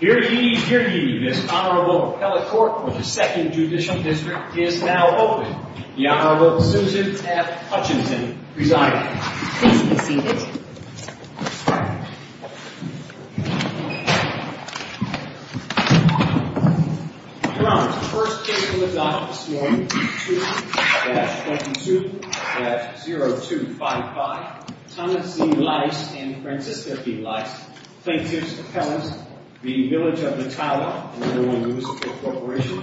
Here he, here he, this Honorable Appellate Court of the 2nd Judicial District is now open. The Honorable Susan F. Hutchinson, presiding. Please be seated. Your Honors, the first case from the dock this morning, 2-22-0255, Thomas B. Lys and Francisca B. Lys. Plaintiffs' Appellants, v. Village of Mettawa and Illinois Municipal Corporation,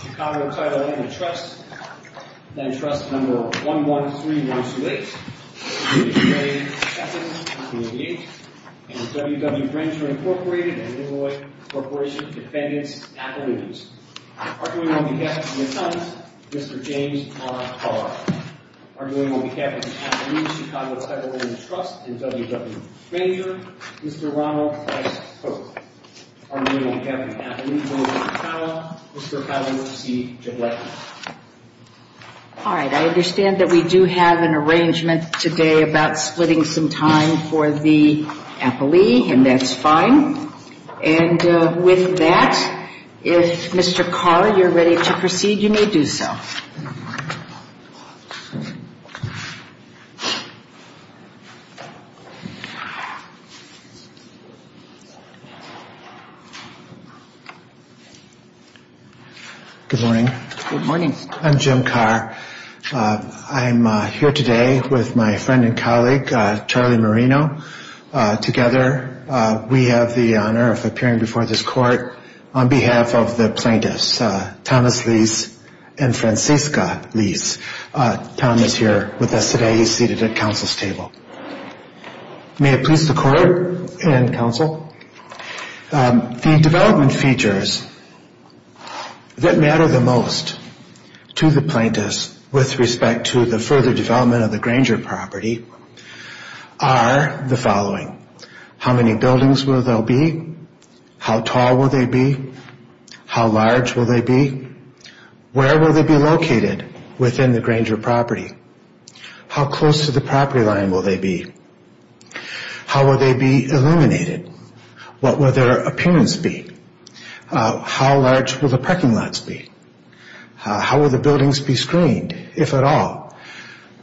Chicago Title Interest, then Trust No. 113128, B. J. Sessions, 288, and W. W. Granger, Incorporated and Illinois Corporation Defendants Appellees. Arguing on behalf of the Appellants, Mr. James R. Carr. Arguing on behalf of the Appellees, Chicago Title Interest and W. W. Granger, Mr. Ronald F. Cook. Arguing on behalf of the Appellees, Village of Mettawa, Mr. Howard C. Jablecki. All right, I understand that we do have an arrangement today about splitting some time for the Appellee, and that's fine. And with that, if Mr. Carr, you're ready to proceed, you may do so. Good morning. Good morning. I'm Jim Carr. I'm here today with my friend and colleague, Charlie Marino. Together, we have the honor of appearing before this Court on behalf of the Plaintiffs, Thomas Lys and Francisca Lys. Tom is here with us today. He's seated at Council's table. May it please the Court and Council. The development features that matter the most to the Plaintiffs with respect to the further development of the Granger property are the following. How many buildings will there be? How tall will they be? How large will they be? Where will they be located within the Granger property? How close to the property line will they be? How will they be illuminated? What will their appearance be? How large will the parking lots be? How will the buildings be screened, if at all?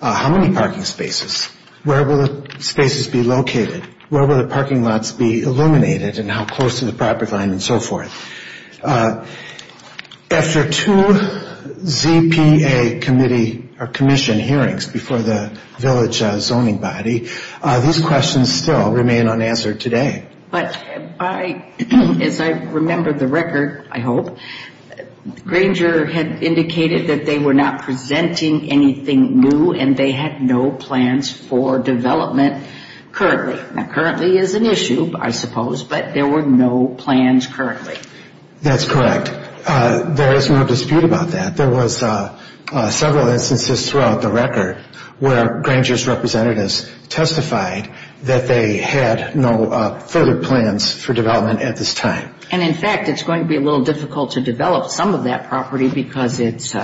How many parking spaces? Where will the spaces be located? Where will the parking lots be illuminated and how close to the property line and so forth? After two ZPA committee or commission hearings before the Village Zoning Body, these questions still remain unanswered today. But as I remember the record, I hope, Granger had indicated that they were not presenting anything new and they had no plans for development currently. That currently is an issue, I suppose, but there were no plans currently. That's correct. There is no dispute about that. There was several instances throughout the record where Granger's representatives testified that they had no further plans for development at this time. And in fact, it's going to be a little difficult to develop some of that property because it's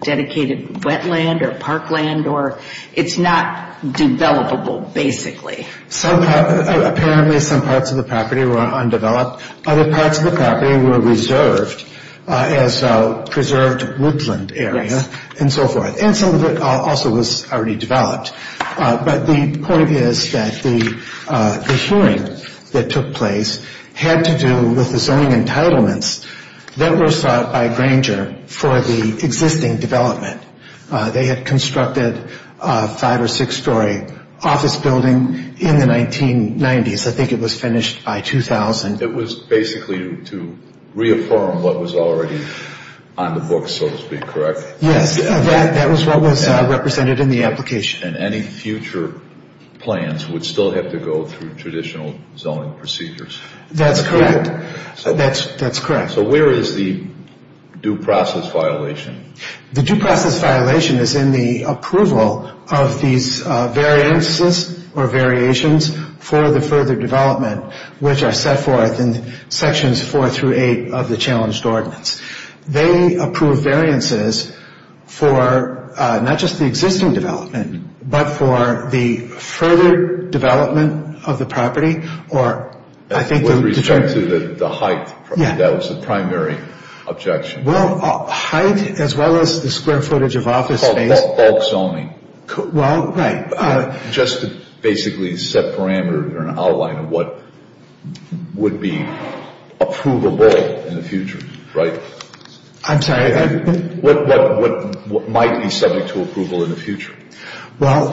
dedicated wetland or parkland or it's not developable, basically. Apparently, some parts of the property were undeveloped. Other parts of the property were reserved as a preserved woodland area and so forth. And some of it also was already developed. But the point is that the hearing that took place had to do with the zoning entitlements that were sought by Granger for the existing development. They had constructed a five or six-story office building in the 1990s. I think it was finished by 2000. It was basically to reaffirm what was already on the books, so to speak, correct? Yes, that was what was represented in the application. So, each and any future plans would still have to go through traditional zoning procedures? That's correct. So, where is the due process violation? The due process violation is in the approval of these variances or variations for the further development, which are set forth in sections four through eight of the challenged ordinance. They approve variances for not just the existing development, but for the further development of the property. I think with respect to the height, that was the primary objection. Well, height as well as the square footage of office space. Bulk zoning. Well, right. Just to basically set parameters or an outline of what would be approvable in the future, right? I'm sorry. What might be subject to approval in the future? Well,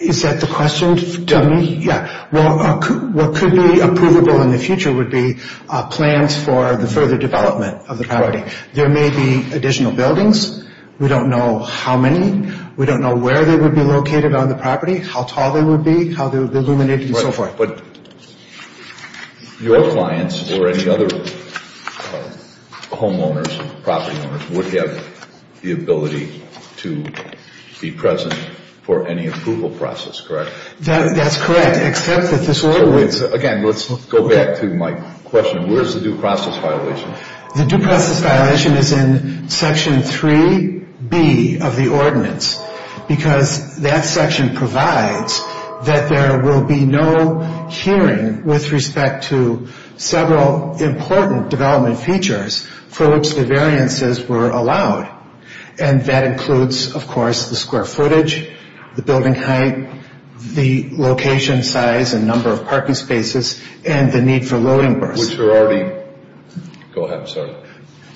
is that the question to me? Yeah. Well, what could be approvable in the future would be plans for the further development of the property. There may be additional buildings. We don't know how many. We don't know where they would be located on the property, how tall they would be, how they would be illuminated and so forth. But your clients or any other homeowners and property owners would have the ability to be present for any approval process, correct? That's correct, except that this ordinance. Again, let's go back to my question. Where is the due process violation? The due process violation is in Section 3B of the ordinance because that section provides that there will be no hearing with respect to several important development features for which the variances were allowed. And that includes, of course, the square footage, the building height, the location size and number of parking spaces, and the need for loading bars. Go ahead, I'm sorry.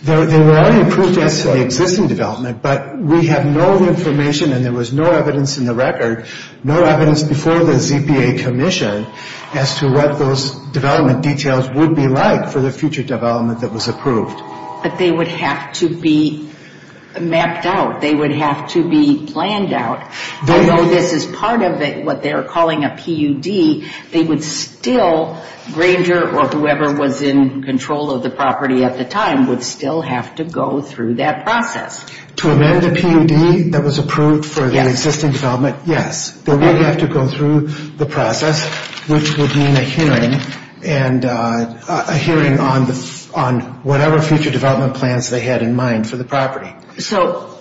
They were already approved as to the existing development, but we have no information and there was no evidence in the record, no evidence before the ZPA Commission as to what those development details would be like for the future development that was approved. But they would have to be mapped out. They would have to be planned out. Although this is part of what they're calling a PUD, they would still, Granger or whoever was in control of the property at the time, would still have to go through that process. To amend the PUD that was approved for the existing development, yes. They would have to go through the process, which would mean a hearing on whatever future development plans they had in mind for the property. So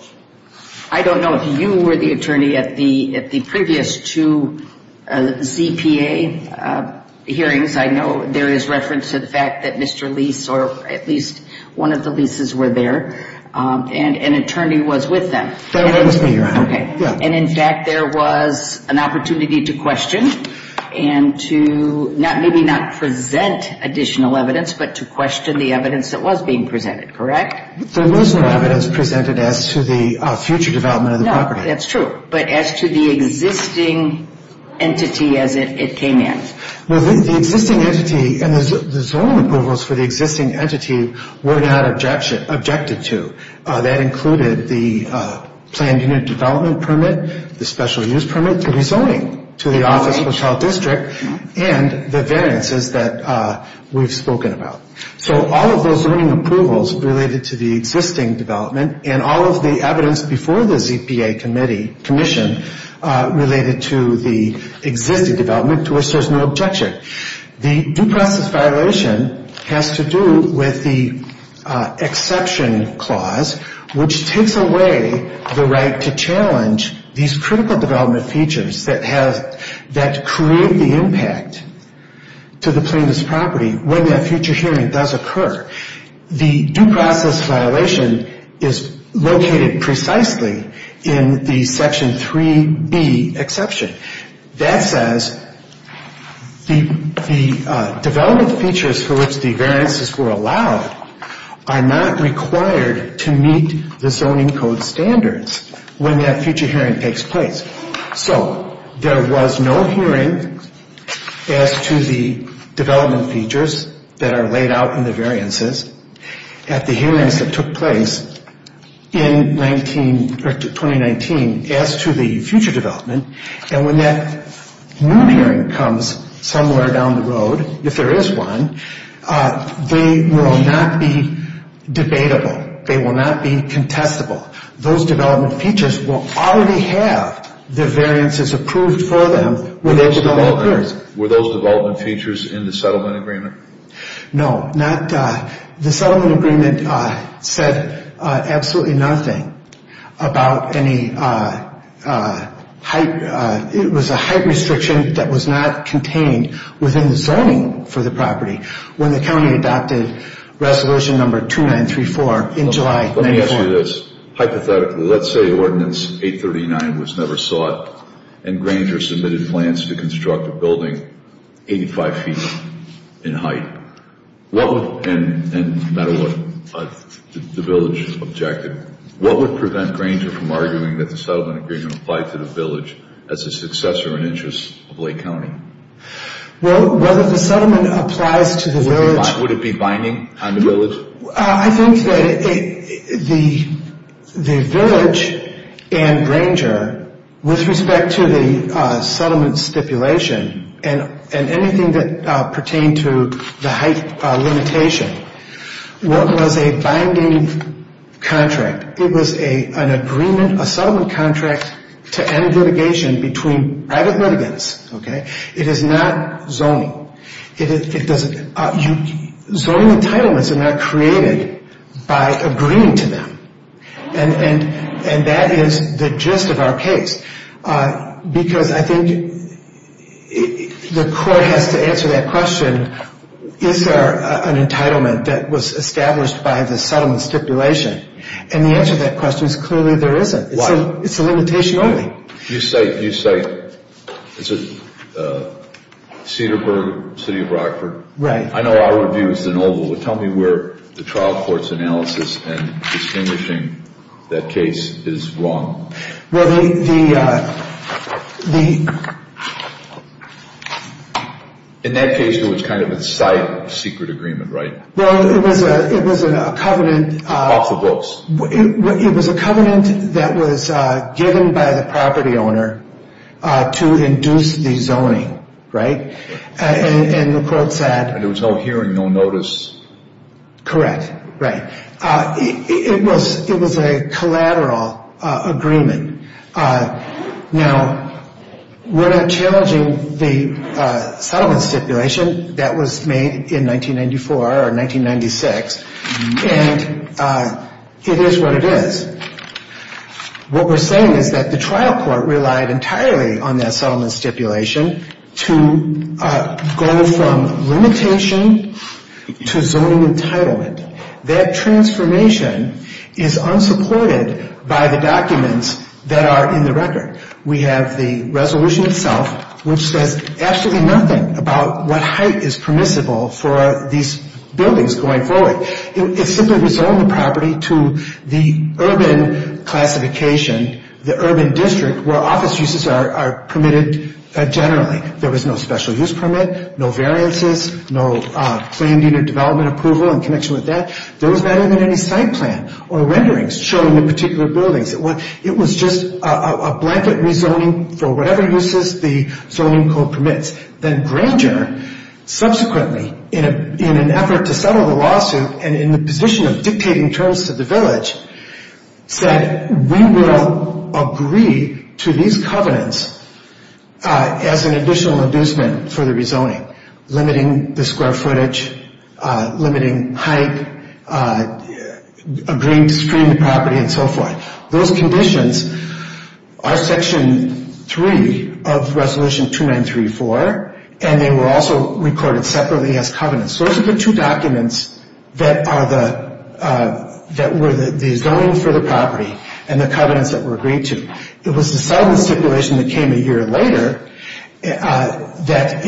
I don't know if you were the attorney at the previous two ZPA hearings. I know there is reference to the fact that Mr. Lease or at least one of the Leases were there and an attorney was with them. That was me, Your Honor. Okay. And in fact, there was an opportunity to question and to maybe not present additional evidence, but to question the evidence that was being presented, correct? There was no evidence presented as to the future development of the property. No, that's true. But as to the existing entity as it came in. Well, the existing entity and the zoning approvals for the existing entity were not objected to. That included the planned unit development permit, the special use permit, the rezoning to the Office of the Child District, and the variances that we've spoken about. So all of those zoning approvals related to the existing development and all of the evidence before the ZPA commission related to the existing development to which there is no objection. The due process violation has to do with the exception clause, which takes away the right to challenge these critical development features that create the impact to the plaintiff's property when that future hearing does occur. The due process violation is located precisely in the Section 3B exception. That says the development features for which the variances were allowed are not required to meet the zoning code standards when that future hearing takes place. So there was no hearing as to the development features that are laid out in the variances at the hearings that took place in 2019 as to the future development. And when that new hearing comes somewhere down the road, if there is one, they will not be debatable. They will not be contestable. Those development features will already have the variances approved for them. Were those development features in the settlement agreement? No. The settlement agreement said absolutely nothing about any height. It was a height restriction that was not contained within the zoning for the property when the county adopted Resolution 2934 in July 1994. Let me ask you this. Hypothetically, let's say Ordinance 839 was never sought and Granger submitted plans to construct a building 85 feet in height. And no matter what, the village objected. What would prevent Granger from arguing that the settlement agreement applied to the village as a successor in interest of Lake County? Well, whether the settlement applies to the village... Would it be binding on the village? I think that the village and Granger, with respect to the settlement stipulation and anything that pertained to the height limitation, was a binding contract. It was an agreement, a settlement contract, to end litigation between private litigants. It is not zoning. Zoning entitlements are not created by agreeing to them. And that is the gist of our case. Because I think the court has to answer that question, is there an entitlement that was established by the settlement stipulation? And the answer to that question is clearly there isn't. Why? It's a limitation only. You cite Cedarburg, City of Rockford. Right. I know our review is in Oval, but tell me where the trial court's analysis in distinguishing that case is wrong. Well, the... In that case, it was kind of a site secret agreement, right? Well, it was a covenant... Off the books. It was a covenant that was given by the property owner to induce the zoning, right? And the court said... And there was no hearing, no notice. Correct. Right. It was a collateral agreement. Now, we're not challenging the settlement stipulation that was made in 1994 or 1996. And it is what it is. What we're saying is that the trial court relied entirely on that settlement stipulation to go from limitation to zoning entitlement. That transformation is unsupported by the documents that are in the record. We have the resolution itself, which says absolutely nothing about what height is permissible for these buildings going forward. It's simply rezoning the property to the urban classification, the urban district, where office uses are permitted generally. There was no special use permit, no variances, no claimed unit development approval in connection with that. There was not even any site plan or renderings showing the particular buildings. It was just a blanket rezoning for whatever uses the zoning code permits. Then Granger, subsequently, in an effort to settle the lawsuit and in the position of dictating terms to the village, said we will agree to these covenants as an additional inducement for the rezoning, limiting the square footage, limiting height, agreeing to screen the property, and so forth. Those conditions are Section 3 of Resolution 2934, and they were also recorded separately as covenants. Those are the two documents that were the zoning for the property and the covenants that were agreed to. It was the settlement stipulation that came a year later that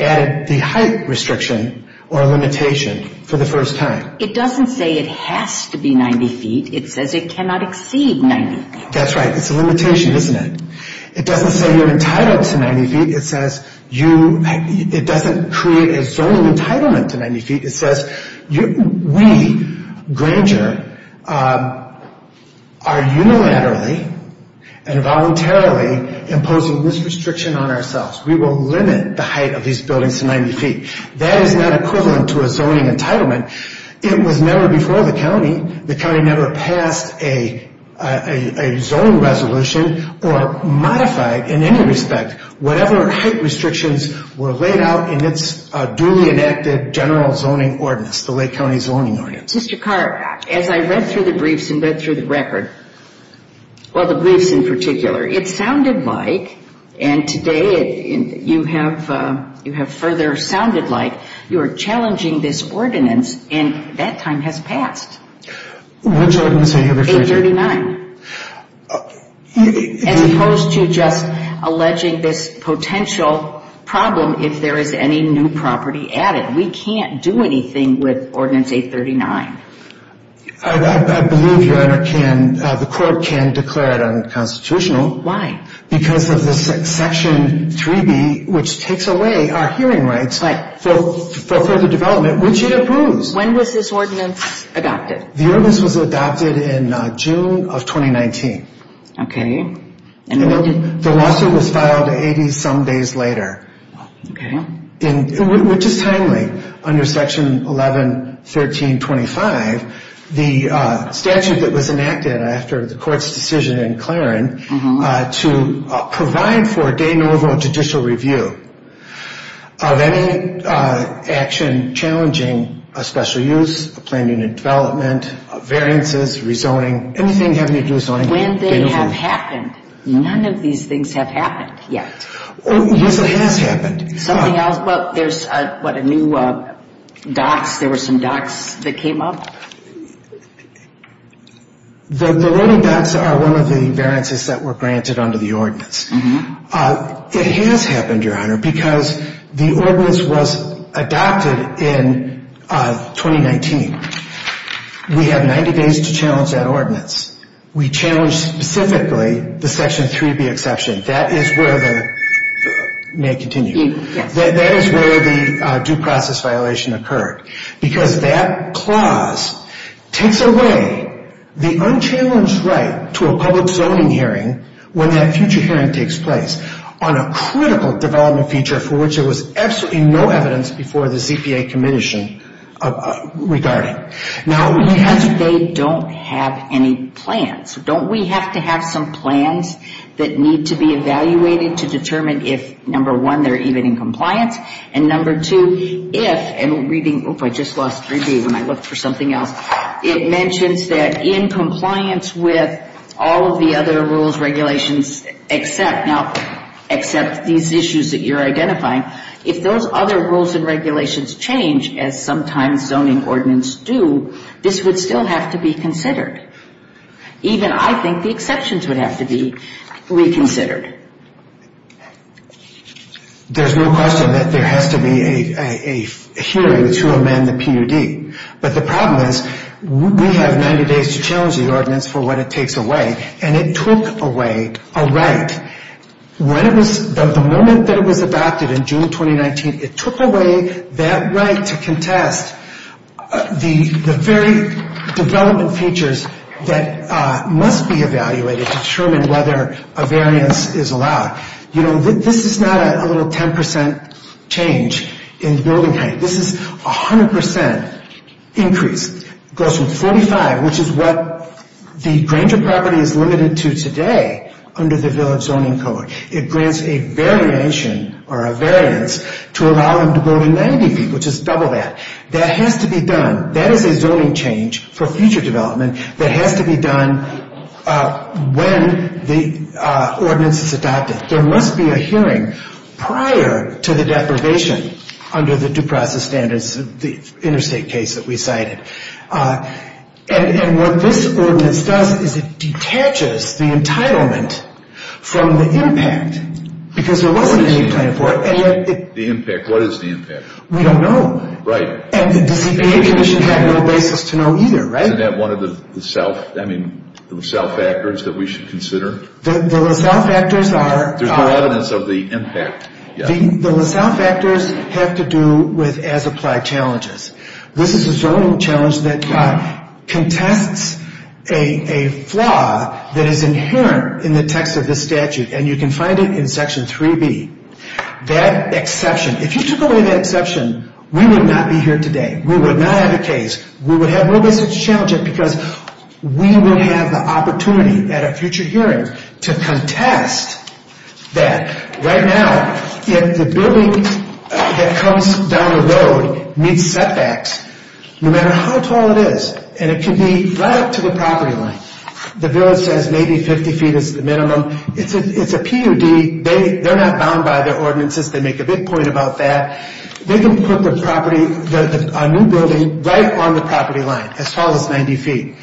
added the height restriction or limitation for the first time. It doesn't say it has to be 90 feet. It says it cannot exceed 90 feet. That's right. It's a limitation, isn't it? It doesn't say you're entitled to 90 feet. It doesn't create a zoning entitlement to 90 feet. It says we, Granger, are unilaterally and voluntarily imposing this restriction on ourselves. We will limit the height of these buildings to 90 feet. That is not equivalent to a zoning entitlement. It was never before the county, the county never passed a zoning resolution or modified in any respect whatever height restrictions were laid out in its duly enacted general zoning ordinance, the Lake County Zoning Ordinance. Mr. Carr, as I read through the briefs and read through the record, well, the briefs in particular, it sounded like and today you have further sounded like you are challenging this ordinance and that time has passed. Which ordinance are you referring to? 839. As opposed to just alleging this potential problem if there is any new property added. We can't do anything with Ordinance 839. I believe, Your Honor, the court can declare it unconstitutional. Why? Because of Section 3B, which takes away our hearing rights for further development, which it approves. When was this ordinance adopted? The ordinance was adopted in June of 2019. Okay. The lawsuit was filed 80 some days later. Okay. Which is timely under Section 1113.25. The statute that was enacted after the court's decision in Claren to provide for a de novo judicial review of any action challenging a special use, a planned unit development, variances, rezoning, anything having to do with zoning. When they have happened, none of these things have happened yet. Oh, yes, it has happened. Something else? Well, there's, what, a new docks? There were some docks that came up? The loading docks are one of the variances that were granted under the ordinance. It has happened, Your Honor, because the ordinance was adopted in 2019. We have 90 days to challenge that ordinance. We challenge specifically the Section 3B exception. That is where the, may I continue? Yes. That is where the due process violation occurred. Because that clause takes away the unchallenged right to a public zoning hearing when that future hearing takes place on a critical development feature for which there was absolutely no evidence before the ZPA commission regarding. No, because they don't have any plans. Don't we have to have some plans that need to be evaluated to determine if, number one, they're even in compliance, and number two, if, and reading, oop, I just lost 3B when I looked for something else. It mentions that in compliance with all of the other rules, regulations, except, now, except these issues that you're identifying, if those other rules and regulations change, as sometimes zoning ordinance do, this would still have to be considered. Even, I think, the exceptions would have to be reconsidered. There's no question that there has to be a hearing to amend the PUD. But the problem is we have 90 days to challenge the ordinance for what it takes away, and it took away a right. When it was, the moment that it was adopted in June 2019, it took away that right to contest the very development features that must be evaluated to determine whether a variance is allowed. You know, this is not a little 10% change in building height. This is 100% increase. It goes from 45, which is what the Granger property is limited to today under the Village Zoning Code. It grants a variation or a variance to allow them to go to 90 feet, which is double that. That has to be done. That is a zoning change for future development that has to be done when the ordinance is adopted. There must be a hearing prior to the deprivation under the due process standards, the interstate case that we cited. And what this ordinance does is it detaches the entitlement from the impact because there wasn't any plan for it. The impact. What is the impact? We don't know. Right. And the CPA Commission had no basis to know either, right? Isn't that one of the self, I mean, the self-factors that we should consider? The self-factors are. There's no evidence of the impact yet. The self-factors have to do with as-applied challenges. This is a zoning challenge that contests a flaw that is inherent in the text of this statute, and you can find it in Section 3B. That exception, if you took away that exception, we would not be here today. We would not have a case. We would have no basis to challenge it because we will have the opportunity at a future hearing to contest that. Right now, if the building that comes down the road meets setbacks, no matter how tall it is, and it can be right up to the property line. The village says maybe 50 feet is the minimum. It's a PUD. They're not bound by their ordinances. They make a big point about that. They can put the property, a new building, right on the property line, as tall as 90 feet.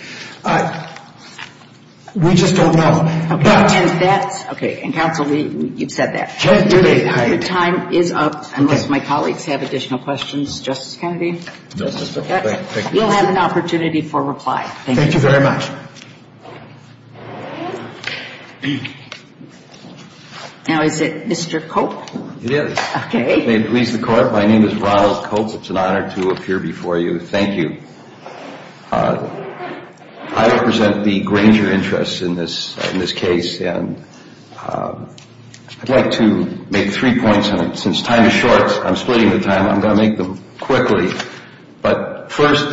We just don't know. Okay. And that's, okay. And, counsel, you've said that. The time is up, unless my colleagues have additional questions. Justice Kennedy? No, sister. Thank you. You'll have an opportunity for reply. Thank you. Thank you very much. Now is it Mr. Cope? It is. May it please the Court. My name is Ronald Cope. It's an honor to appear before you. Thank you. I represent the Granger interests in this case, and I'd like to make three points. Since time is short, I'm splitting the time. I'm going to make them quickly. But first,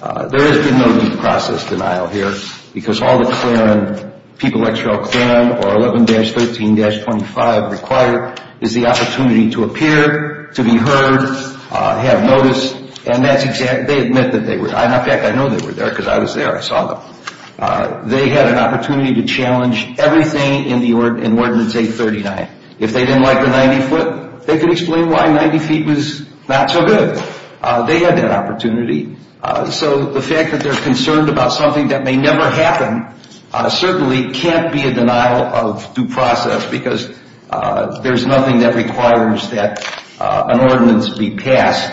there has been no due process denial here, because all the clearance, people like Cheryl Claren, or 11-13-25 required, is the opportunity to appear, to be heard, have notice. And that's exactly, they admit that they were there. In fact, I know they were there because I was there. I saw them. They had an opportunity to challenge everything in Ordinance 839. If they didn't like the 90 foot, they could explain why 90 feet was not so good. They had that opportunity. So the fact that they're concerned about something that may never happen certainly can't be a denial of due process, because there's nothing that requires that an ordinance be passed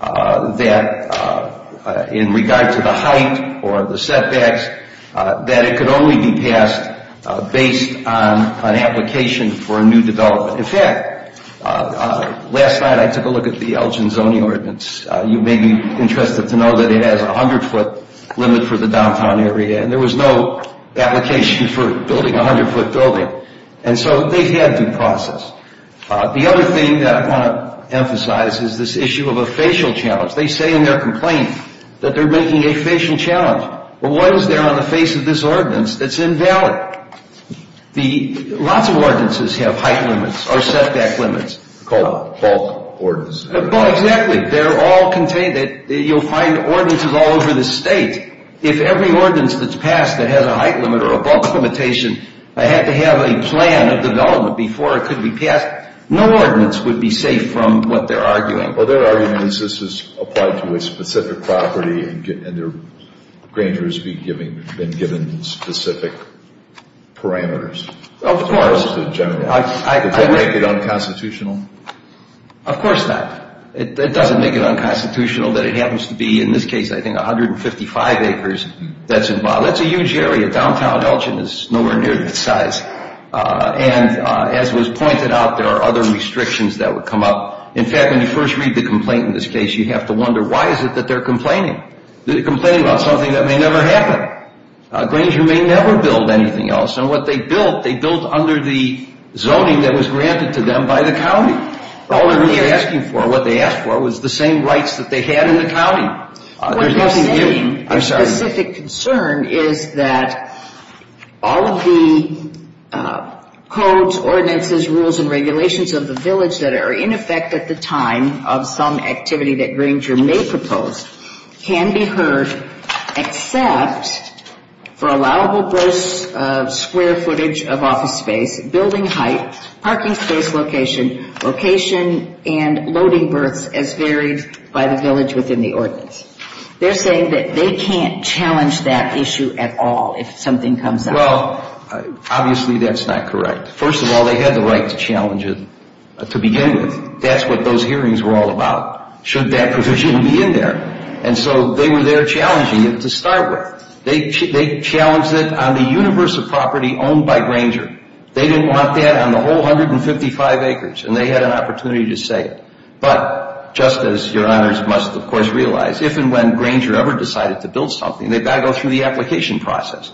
that, in regard to the height or the setbacks, that it could only be passed based on an application for a new development. In fact, last night I took a look at the Elgin Zoning Ordinance. You may be interested to know that it has a 100 foot limit for the downtown area, and there was no application for building a 100 foot building. And so they've had due process. The other thing that I want to emphasize is this issue of a facial challenge. They say in their complaint that they're making a facial challenge. But what is there on the face of this ordinance that's invalid? Lots of ordinances have height limits or setback limits. Called bulk ordinance. Exactly. They're all contained. You'll find ordinances all over the state. If every ordinance that's passed that has a height limit or a bulk limitation had to have a plan of development before it could be passed, no ordinance would be safe from what they're arguing. Well, their argument is this is applied to a specific property, and Granger has been given specific parameters. Of course. Does that make it unconstitutional? Of course not. It doesn't make it unconstitutional that it happens to be in this case I think 155 acres that's involved. That's a huge area. Downtown Elgin is nowhere near that size. And as was pointed out, there are other restrictions that would come up. In fact, when you first read the complaint in this case, you have to wonder why is it that they're complaining? They're complaining about something that may never happen. Granger may never build anything else. And what they built, they built under the zoning that was granted to them by the county. All they're really asking for, what they asked for, was the same rights that they had in the county. What they're saying, a specific concern, is that all of the codes, ordinances, rules, and regulations of the village that are in effect at the time of some activity that Granger may propose can be heard, except for allowable gross square footage of office space, building height, parking space location, location and loading berths as varied by the village within the ordinance. They're saying that they can't challenge that issue at all if something comes up. Well, obviously that's not correct. First of all, they had the right to challenge it to begin with. That's what those hearings were all about. Should that provision be in there? And so they were there challenging it to start with. They challenged it on the universe of property owned by Granger. They didn't want that on the whole 155 acres. And they had an opportunity to say it. But just as your honors must, of course, realize, if and when Granger ever decided to build something, they've got to go through the application process.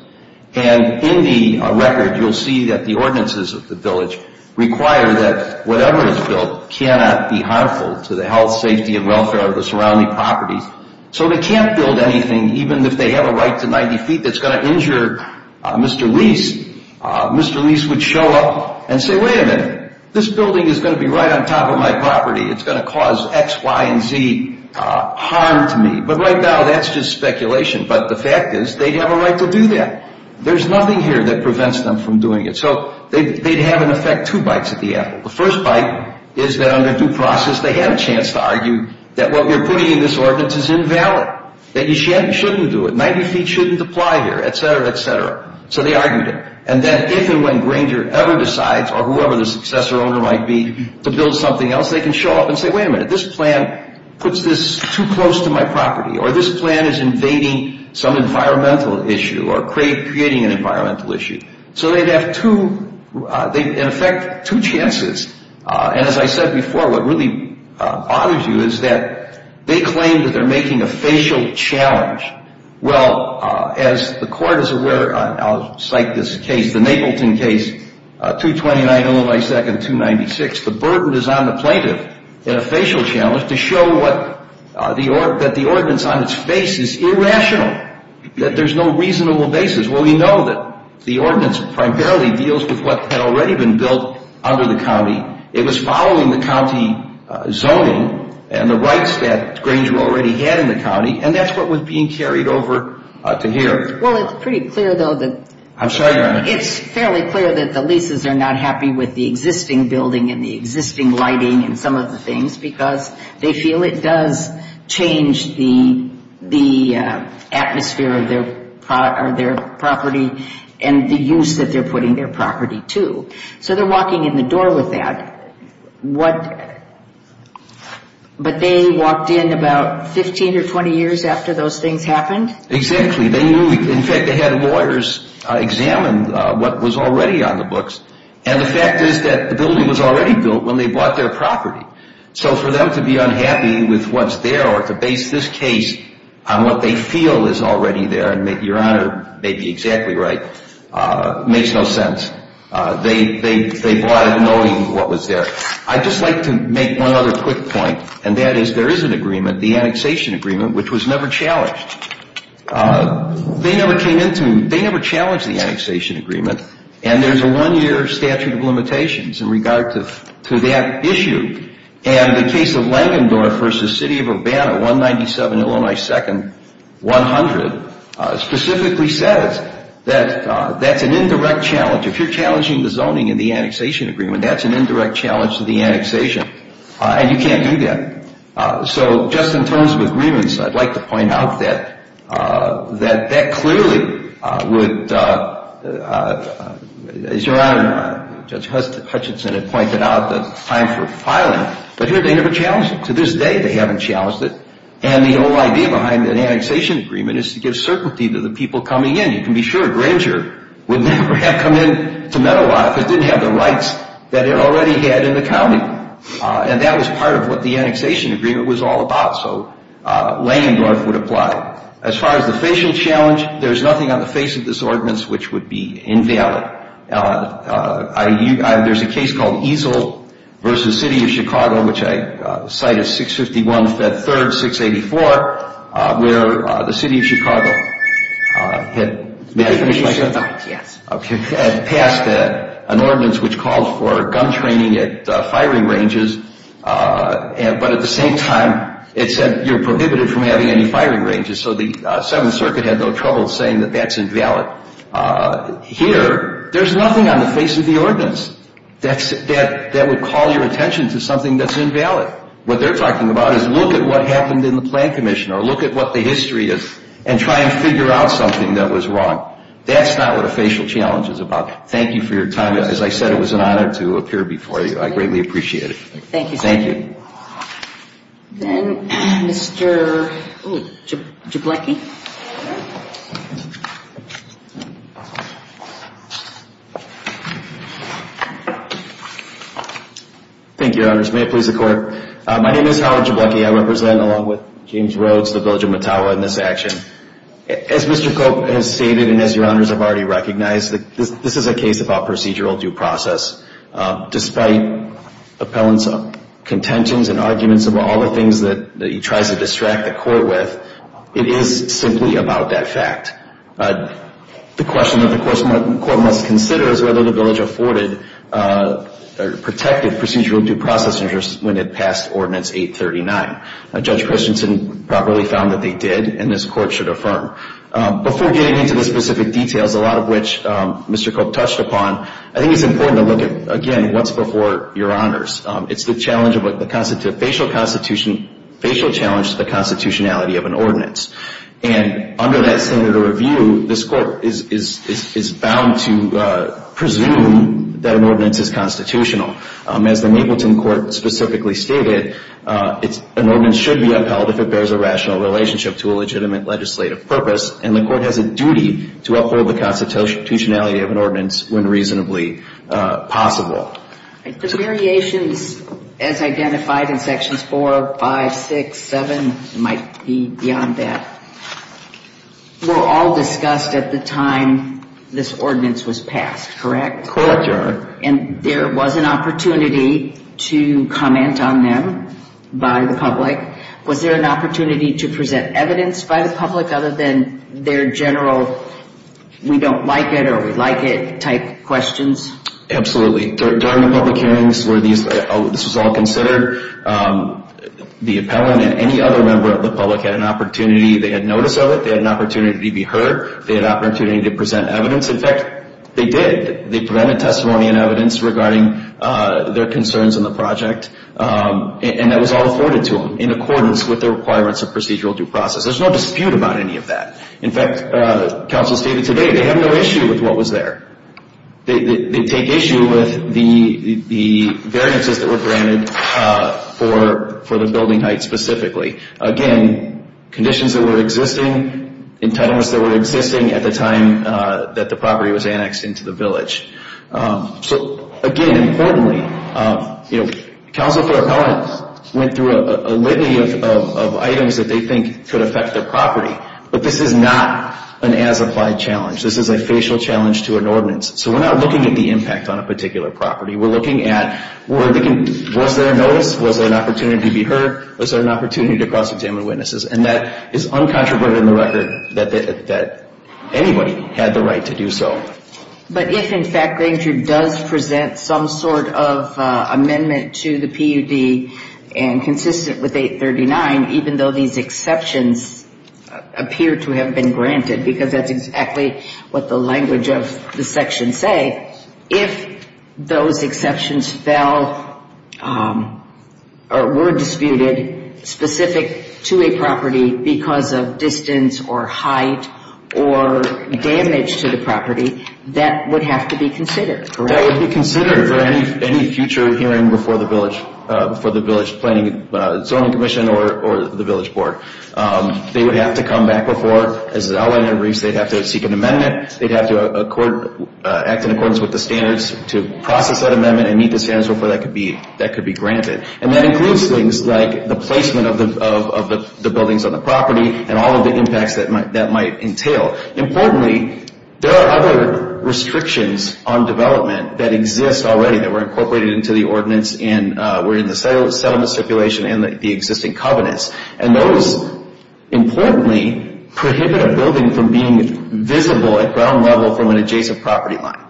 And in the record, you'll see that the ordinances of the village require that whatever is built cannot be harmful to the health, safety, and welfare of the surrounding properties. So they can't build anything, even if they have a right to 90 feet, that's going to injure Mr. Lease. Mr. Lease would show up and say, wait a minute, this building is going to be right on top of my property. It's going to cause X, Y, and Z harm to me. But right now, that's just speculation. But the fact is, they have a right to do that. There's nothing here that prevents them from doing it. So they'd have, in effect, two bites at the apple. The first bite is that under due process, they had a chance to argue that what we're putting in this ordinance is invalid, that you shouldn't do it. 90 feet shouldn't apply here, et cetera, et cetera. So they argued it. And then if and when Granger ever decides, or whoever the successor owner might be, to build something else, they can show up and say, wait a minute, this plan puts this too close to my property. Or this plan is invading some environmental issue or creating an environmental issue. So they'd have two, in effect, two chances. And as I said before, what really bothers you is that they claim that they're making a facial challenge. Well, as the court is aware, I'll cite this case, the Napleton case, 229 Illinois 2nd, 296. The burden is on the plaintiff in a facial challenge to show that the ordinance on its face is irrational, that there's no reasonable basis. Well, we know that the ordinance primarily deals with what had already been built under the county. It was following the county zoning and the rights that Granger already had in the county. And that's what was being carried over to here. Well, it's pretty clear, though, that it's fairly clear that the leases are not happy with the existing building and the existing lighting and some of the things, because they feel it does change the atmosphere of their property and the use that they're putting their property to. So they're walking in the door with that. But they walked in about 15 or 20 years after those things happened? Exactly. In fact, they had lawyers examine what was already on the books. And the fact is that the building was already built when they bought their property. So for them to be unhappy with what's there or to base this case on what they feel is already there, and your Honor may be exactly right, makes no sense. They bought it knowing what was there. I'd just like to make one other quick point, and that is there is an agreement, the annexation agreement, which was never challenged. They never challenged the annexation agreement. And there's a one-year statute of limitations in regard to that issue. And the case of Langendorf v. City of Urbana, 197 Illinois 2nd, 100, specifically says that that's an indirect challenge. If you're challenging the zoning in the annexation agreement, that's an indirect challenge to the annexation. And you can't do that. So just in terms of agreements, I'd like to point out that that clearly would, as Your Honor, Judge Hutchinson had pointed out, the time for filing. But here they never challenged it. To this day, they haven't challenged it. And the whole idea behind an annexation agreement is to give certainty to the people coming in. You can be sure Granger would never have come in to Medawar if it didn't have the rights that it already had in the county. And that was part of what the annexation agreement was all about. So Langendorf would apply. As far as the facial challenge, there's nothing on the face of this ordinance which would be invalid. There's a case called Easel v. City of Chicago, which I cite as 651 Fed 3rd, 684, where the City of Chicago had passed an ordinance which called for gun training at firing ranges. But at the same time, it said you're prohibited from having any firing ranges. So the Seventh Circuit had no trouble saying that that's invalid. Here, there's nothing on the face of the ordinance that would call your attention to something that's invalid. What they're talking about is look at what happened in the plan commission or look at what the history is and try and figure out something that was wrong. That's not what a facial challenge is about. Thank you for your time. As I said, it was an honor to appear before you. I greatly appreciate it. Thank you. Thank you. Then Mr. Jablecki. Thank you, Your Honors. May it please the Court. My name is Howard Jablecki. I represent, along with James Rhodes, the Village of Mattawa in this action. As Mr. Cope has stated and as Your Honors have already recognized, this is a case about procedural due process. Despite appellants' contentions and arguments about all the things that he tries to distract the Court with, it is simply about that fact. The question that the Court must consider is whether the Village afforded or protected procedural due process interest when it passed Ordinance 839. Judge Christensen properly found that they did, and this Court should affirm. Before getting into the specific details, a lot of which Mr. Cope touched upon, I think it's important to look at, again, what's before Your Honors. It's the challenge of a facial challenge to the constitutionality of an ordinance. And under that standard of review, this Court is bound to presume that an ordinance is constitutional. As the Mapleton Court specifically stated, an ordinance should be upheld if it bears a rational relationship to a legitimate legislative purpose, and the Court has a duty to uphold the constitutionality of an ordinance when reasonably possible. The variations, as identified in Sections 4, 5, 6, 7, and might be beyond that, were all discussed at the time this ordinance was passed, correct? Correct, Your Honor. And there was an opportunity to comment on them by the public. Was there an opportunity to present evidence by the public other than their general we don't like it or we like it type questions? Absolutely. During the public hearings where this was all considered, the appellant and any other member of the public had an opportunity. They had notice of it. They had an opportunity to be heard. They had an opportunity to present evidence. In fact, they did. They presented testimony and evidence regarding their concerns in the project, and that was all afforded to them in accordance with the requirements of procedural due process. There's no dispute about any of that. In fact, counsel stated today they have no issue with what was there. They take issue with the variances that were granted for the building height specifically. Again, conditions that were existing, entitlements that were existing at the time that the property was annexed into the village. So again, importantly, counsel for appellants went through a litany of items that they think could affect their property, but this is not an as-applied challenge. This is a facial challenge to an ordinance. So we're not looking at the impact on a particular property. We're looking at was there a notice? Was there an opportunity to be heard? Was there an opportunity to cross-examine witnesses? And that is uncontroverted in the record that anybody had the right to do so. But if, in fact, Granger does present some sort of amendment to the PUD and consistent with 839, even though these exceptions appear to have been granted because that's exactly what the language of the section say, if those exceptions fell or were disputed specific to a property because of distance or height or damage to the property, that would have to be considered, correct? That would be considered for any future hearing before the village planning zoning commission or the village board. They would have to come back before. As an outlander in reefs, they'd have to seek an amendment. They'd have to act in accordance with the standards to process that amendment and meet the standards before that could be granted. And that includes things like the placement of the buildings on the property and all of the impacts that might entail. Importantly, there are other restrictions on development that exist already that were incorporated into the ordinance and were in the settlement stipulation and the existing covenants. And those, importantly, prohibit a building from being visible at ground level from an adjacent property line.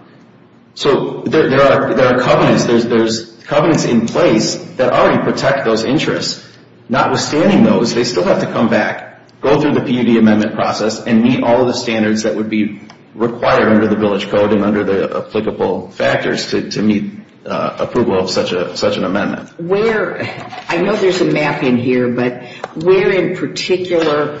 So there are covenants. There's covenants in place that already protect those interests. Notwithstanding those, they still have to come back, go through the PUD amendment process, and meet all of the standards that would be required under the village code and under the applicable factors to meet approval of such an amendment. I know there's a map in here, but where in particular,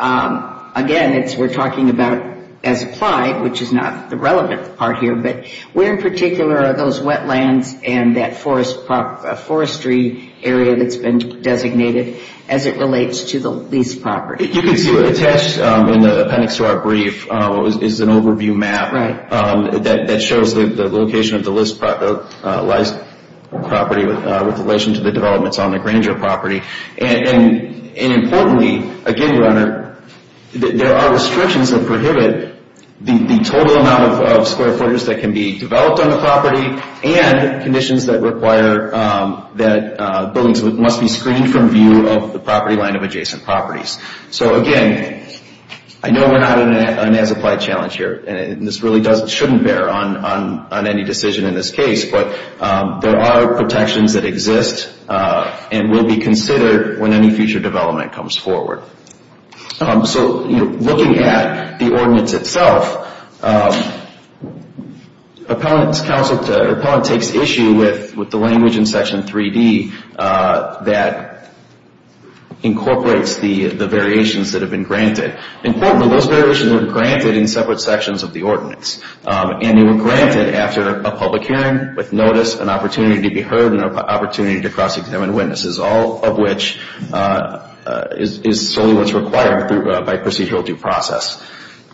again, we're talking about as applied, which is not the relevant part here, but where in particular are those wetlands and that forestry area that's been designated as it relates to the leased property? You can see what's attached in the appendix to our brief is an overview map that shows the location of the leased property with relation to the developments on the Granger property. And importantly, again, your honor, there are restrictions that prohibit the total amount of square footers that can be developed on the property and conditions that require that buildings must be screened from view of the property line of adjacent properties. So, again, I know we're not on an as applied challenge here, and this really shouldn't bear on any decision in this case, but there are protections that exist and will be considered when any future development comes forward. So, looking at the ordinance itself, appellant takes issue with the language in section 3D that incorporates the variations that have been granted. Importantly, those variations were granted in separate sections of the ordinance, and they were granted after a public hearing with notice, an opportunity to be heard, and an opportunity to cross-examine witnesses, all of which is solely what's required by procedural due process.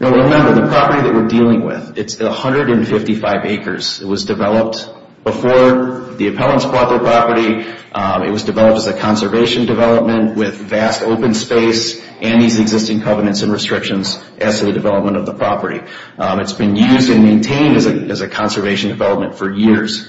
Now, remember, the property that we're dealing with, it's 155 acres. It was developed before the appellants bought the property. It was developed as a conservation development with vast open space and these existing covenants and restrictions as to the development of the property. It's been used and maintained as a conservation development for years.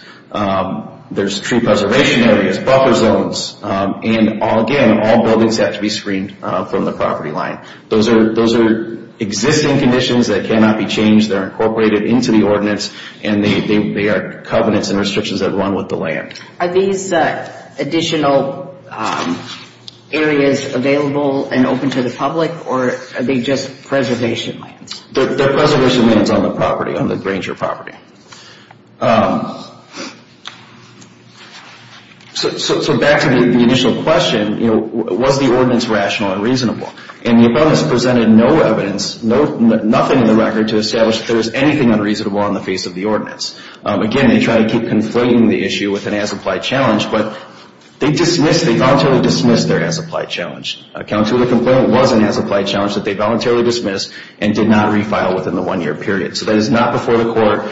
There's tree preservation areas, buffer zones, and again, all buildings have to be screened from the property line. Those are existing conditions that cannot be changed. They're incorporated into the ordinance, and they are covenants and restrictions that run with the land. Are these additional areas available and open to the public, or are they just preservation lands? They're preservation lands on the property, on the Granger property. So, back to the initial question, was the ordinance rational and reasonable? And the appellants presented no evidence, nothing in the record, to establish that there was anything unreasonable on the face of the ordinance. Again, they tried to keep conflating the issue with an as-applied challenge, but they voluntarily dismissed their as-applied challenge. Account to the complaint was an as-applied challenge that they voluntarily dismissed and did not refile within the one-year period. So that is not before the court,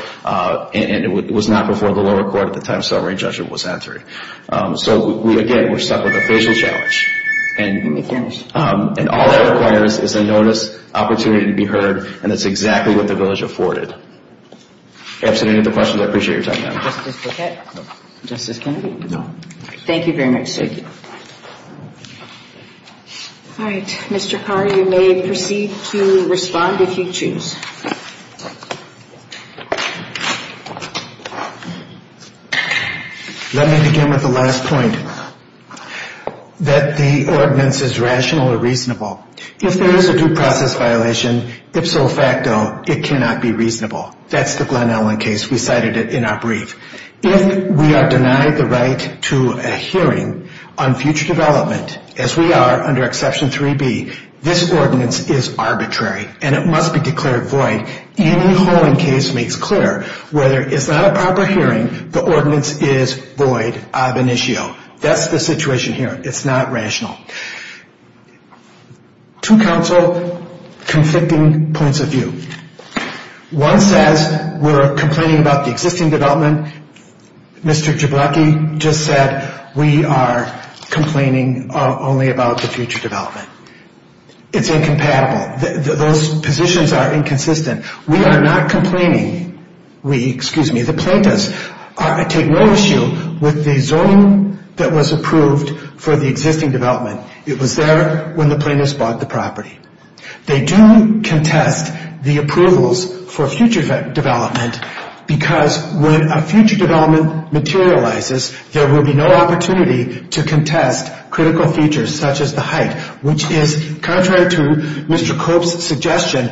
and it was not before the lower court at the time summary judgment was entered. So, again, we're stuck with a facial challenge. Let me finish. And all that requires is a notice, opportunity to be heard, and that's exactly what the village afforded. If you have any other questions, I appreciate your time. Justice Blakett? Justice Kennedy? No. Thank you very much. Thank you. All right. Mr. Carr, you may proceed to respond if you choose. Let me begin with the last point, that the ordinance is rational or reasonable. If there is a due process violation, ipso facto, it cannot be reasonable. That's the Glenn Allen case. We cited it in our brief. If we are denied the right to a hearing on future development, as we are under Exception 3B, this ordinance is arbitrary, and it must be declared void. Any holding case makes clear whether it's not a proper hearing, the ordinance is void, ab initio. That's the situation here. It's not rational. Two counsel conflicting points of view. One says we're complaining about the existing development. Mr. Jabloki just said we are complaining only about the future development. It's incompatible. Those positions are inconsistent. We are not complaining. We, excuse me, the plaintiffs, take no issue with the zoning that was approved for the existing development. It was there when the plaintiffs bought the property. They do contest the approvals for future development because when a future development materializes, there will be no opportunity to contest critical features such as the height, which is contrary to Mr. Cope's suggestion,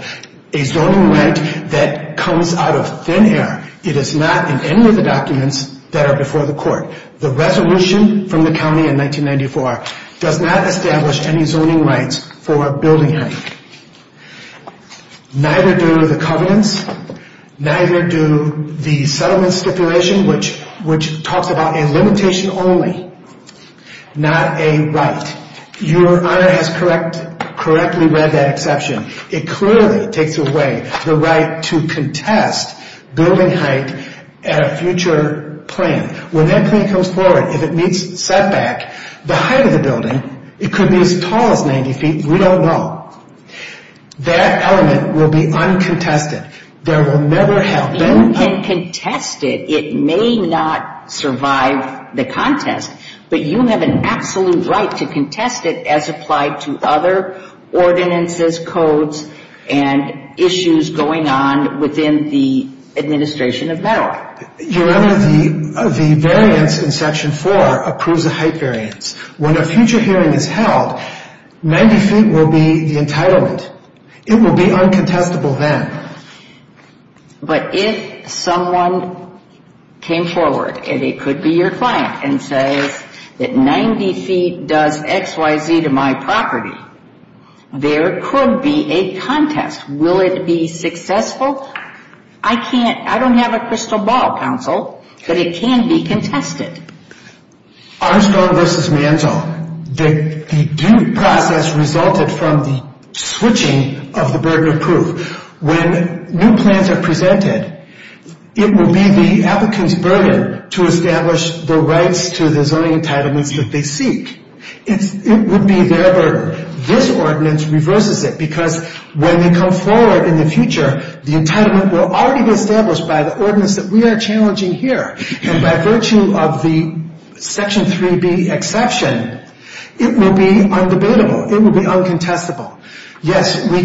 a zoning right that comes out of thin air. It is not in any of the documents that are before the court. The resolution from the county in 1994 does not establish any zoning rights for building height. Neither do the covenants. Neither do the settlement stipulation, which talks about a limitation only, not a right. Your Honor has correctly read that exception. It clearly takes away the right to contest building height at a future plan. When that plan comes forward, if it meets setback, the height of the building, it could be as tall as 90 feet. We don't know. That element will be uncontested. There will never have been a ‑‑ If you can contest it, it may not survive the contest, but you have an absolute right to contest it as applied to other ordinances, codes, and issues going on within the administration of MEDAR. Your Honor, the variance in section 4 approves the height variance. When a future hearing is held, 90 feet will be the entitlement. It will be uncontestable then. But if someone came forward, and it could be your client, and says that 90 feet does X, Y, Z to my property, there could be a contest. Will it be successful? I don't have a crystal ball, counsel, but it can be contested. Armstrong v. Manzo, the due process resulted from the switching of the burden of proof. When new plans are presented, it will be the applicant's burden to establish the rights to the zoning entitlements that they seek. It would be their burden. This ordinance reverses it because when they come forward in the future, the entitlement will already be established by the ordinance that we are challenging here. And by virtue of the section 3B exception, it will be undebatable. It will be uncontestable. Yes, we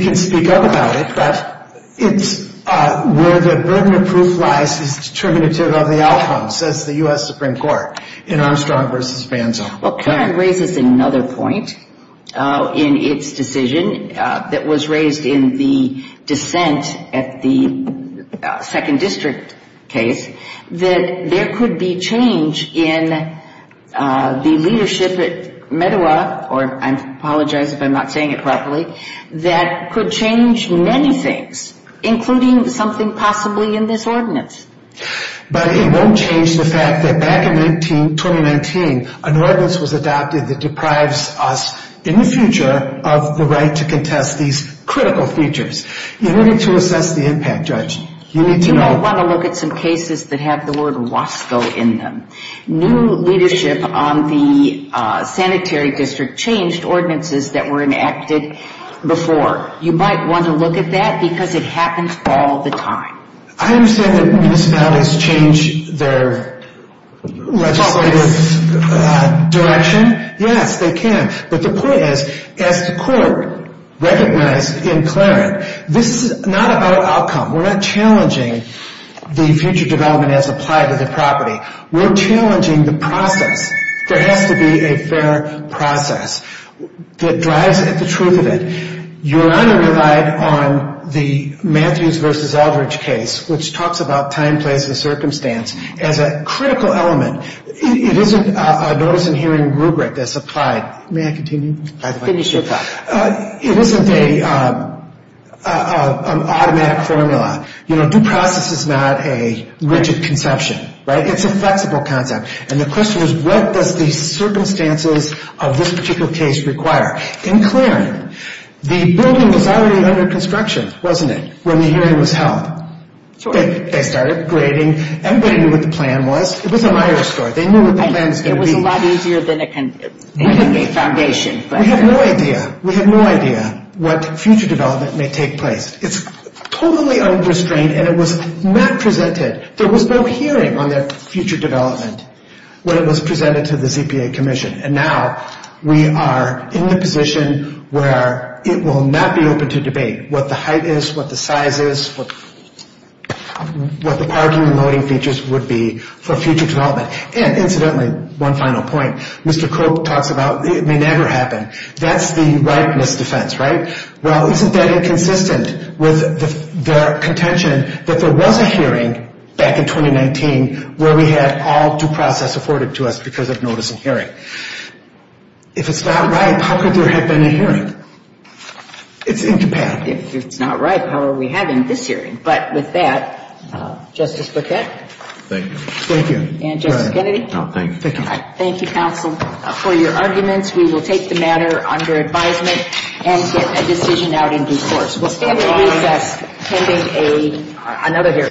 can speak up about it, but it's where the burden of proof lies is determinative of the outcome, says the U.S. Supreme Court in Armstrong v. Manzo. Well, Karen raises another point in its decision that was raised in the dissent at the second district case, that there could be change in the leadership at Medawar, or I apologize if I'm not saying it properly, that could change many things, including something possibly in this ordinance. But it won't change the fact that back in 2019, an ordinance was adopted that deprives us in the future of the right to contest these critical features. You need to assess the impact, Judge. You need to know. You might want to look at some cases that have the word WASCO in them. New leadership on the sanitary district changed ordinances that were enacted before. You might want to look at that because it happens all the time. I understand that municipalities change their legislative direction. Yes, they can. But the point is, as the court recognized in Clarence, this is not about outcome. We're not challenging the future development as applied to the property. We're challenging the process. There has to be a fair process that drives the truth of it. Your Honor relied on the Matthews v. Eldridge case, which talks about time, place, and circumstance, as a critical element. It isn't a notice-and-hearing rubric that's applied. May I continue? Finish your thought. It isn't an automatic formula. You know, due process is not a rigid conception, right? It's a flexible concept. And the question is, what does the circumstances of this particular case require? In Clarence, the building was already under construction, wasn't it, when the hearing was held? They started grading. Everybody knew what the plan was. It was a liar story. They knew what the plan was going to be. It was a lot easier than a foundation. We have no idea. We have no idea what future development may take place. It's totally unrestrained, and it was not presented. There was no hearing on that future development when it was presented to the ZPA Commission. And now we are in the position where it will not be open to debate what the height is, what the size is, what the parking and loading features would be for future development. And incidentally, one final point, Mr. Croak talks about it may never happen. That's the ripeness defense, right? Well, isn't that inconsistent with their contention that there was a hearing back in 2019 where we had all due process afforded to us because of notice and hearing? If it's not right, how could there have been a hearing? It's incompatible. If it's not right, how are we having this hearing? But with that, Justice Burkett? Thank you. Thank you. And Justice Kennedy? No, thank you. Thank you. Thank you, counsel, for your arguments. We will take the matter under advisement and get a decision out in due course. We'll stand in recess pending another hearing.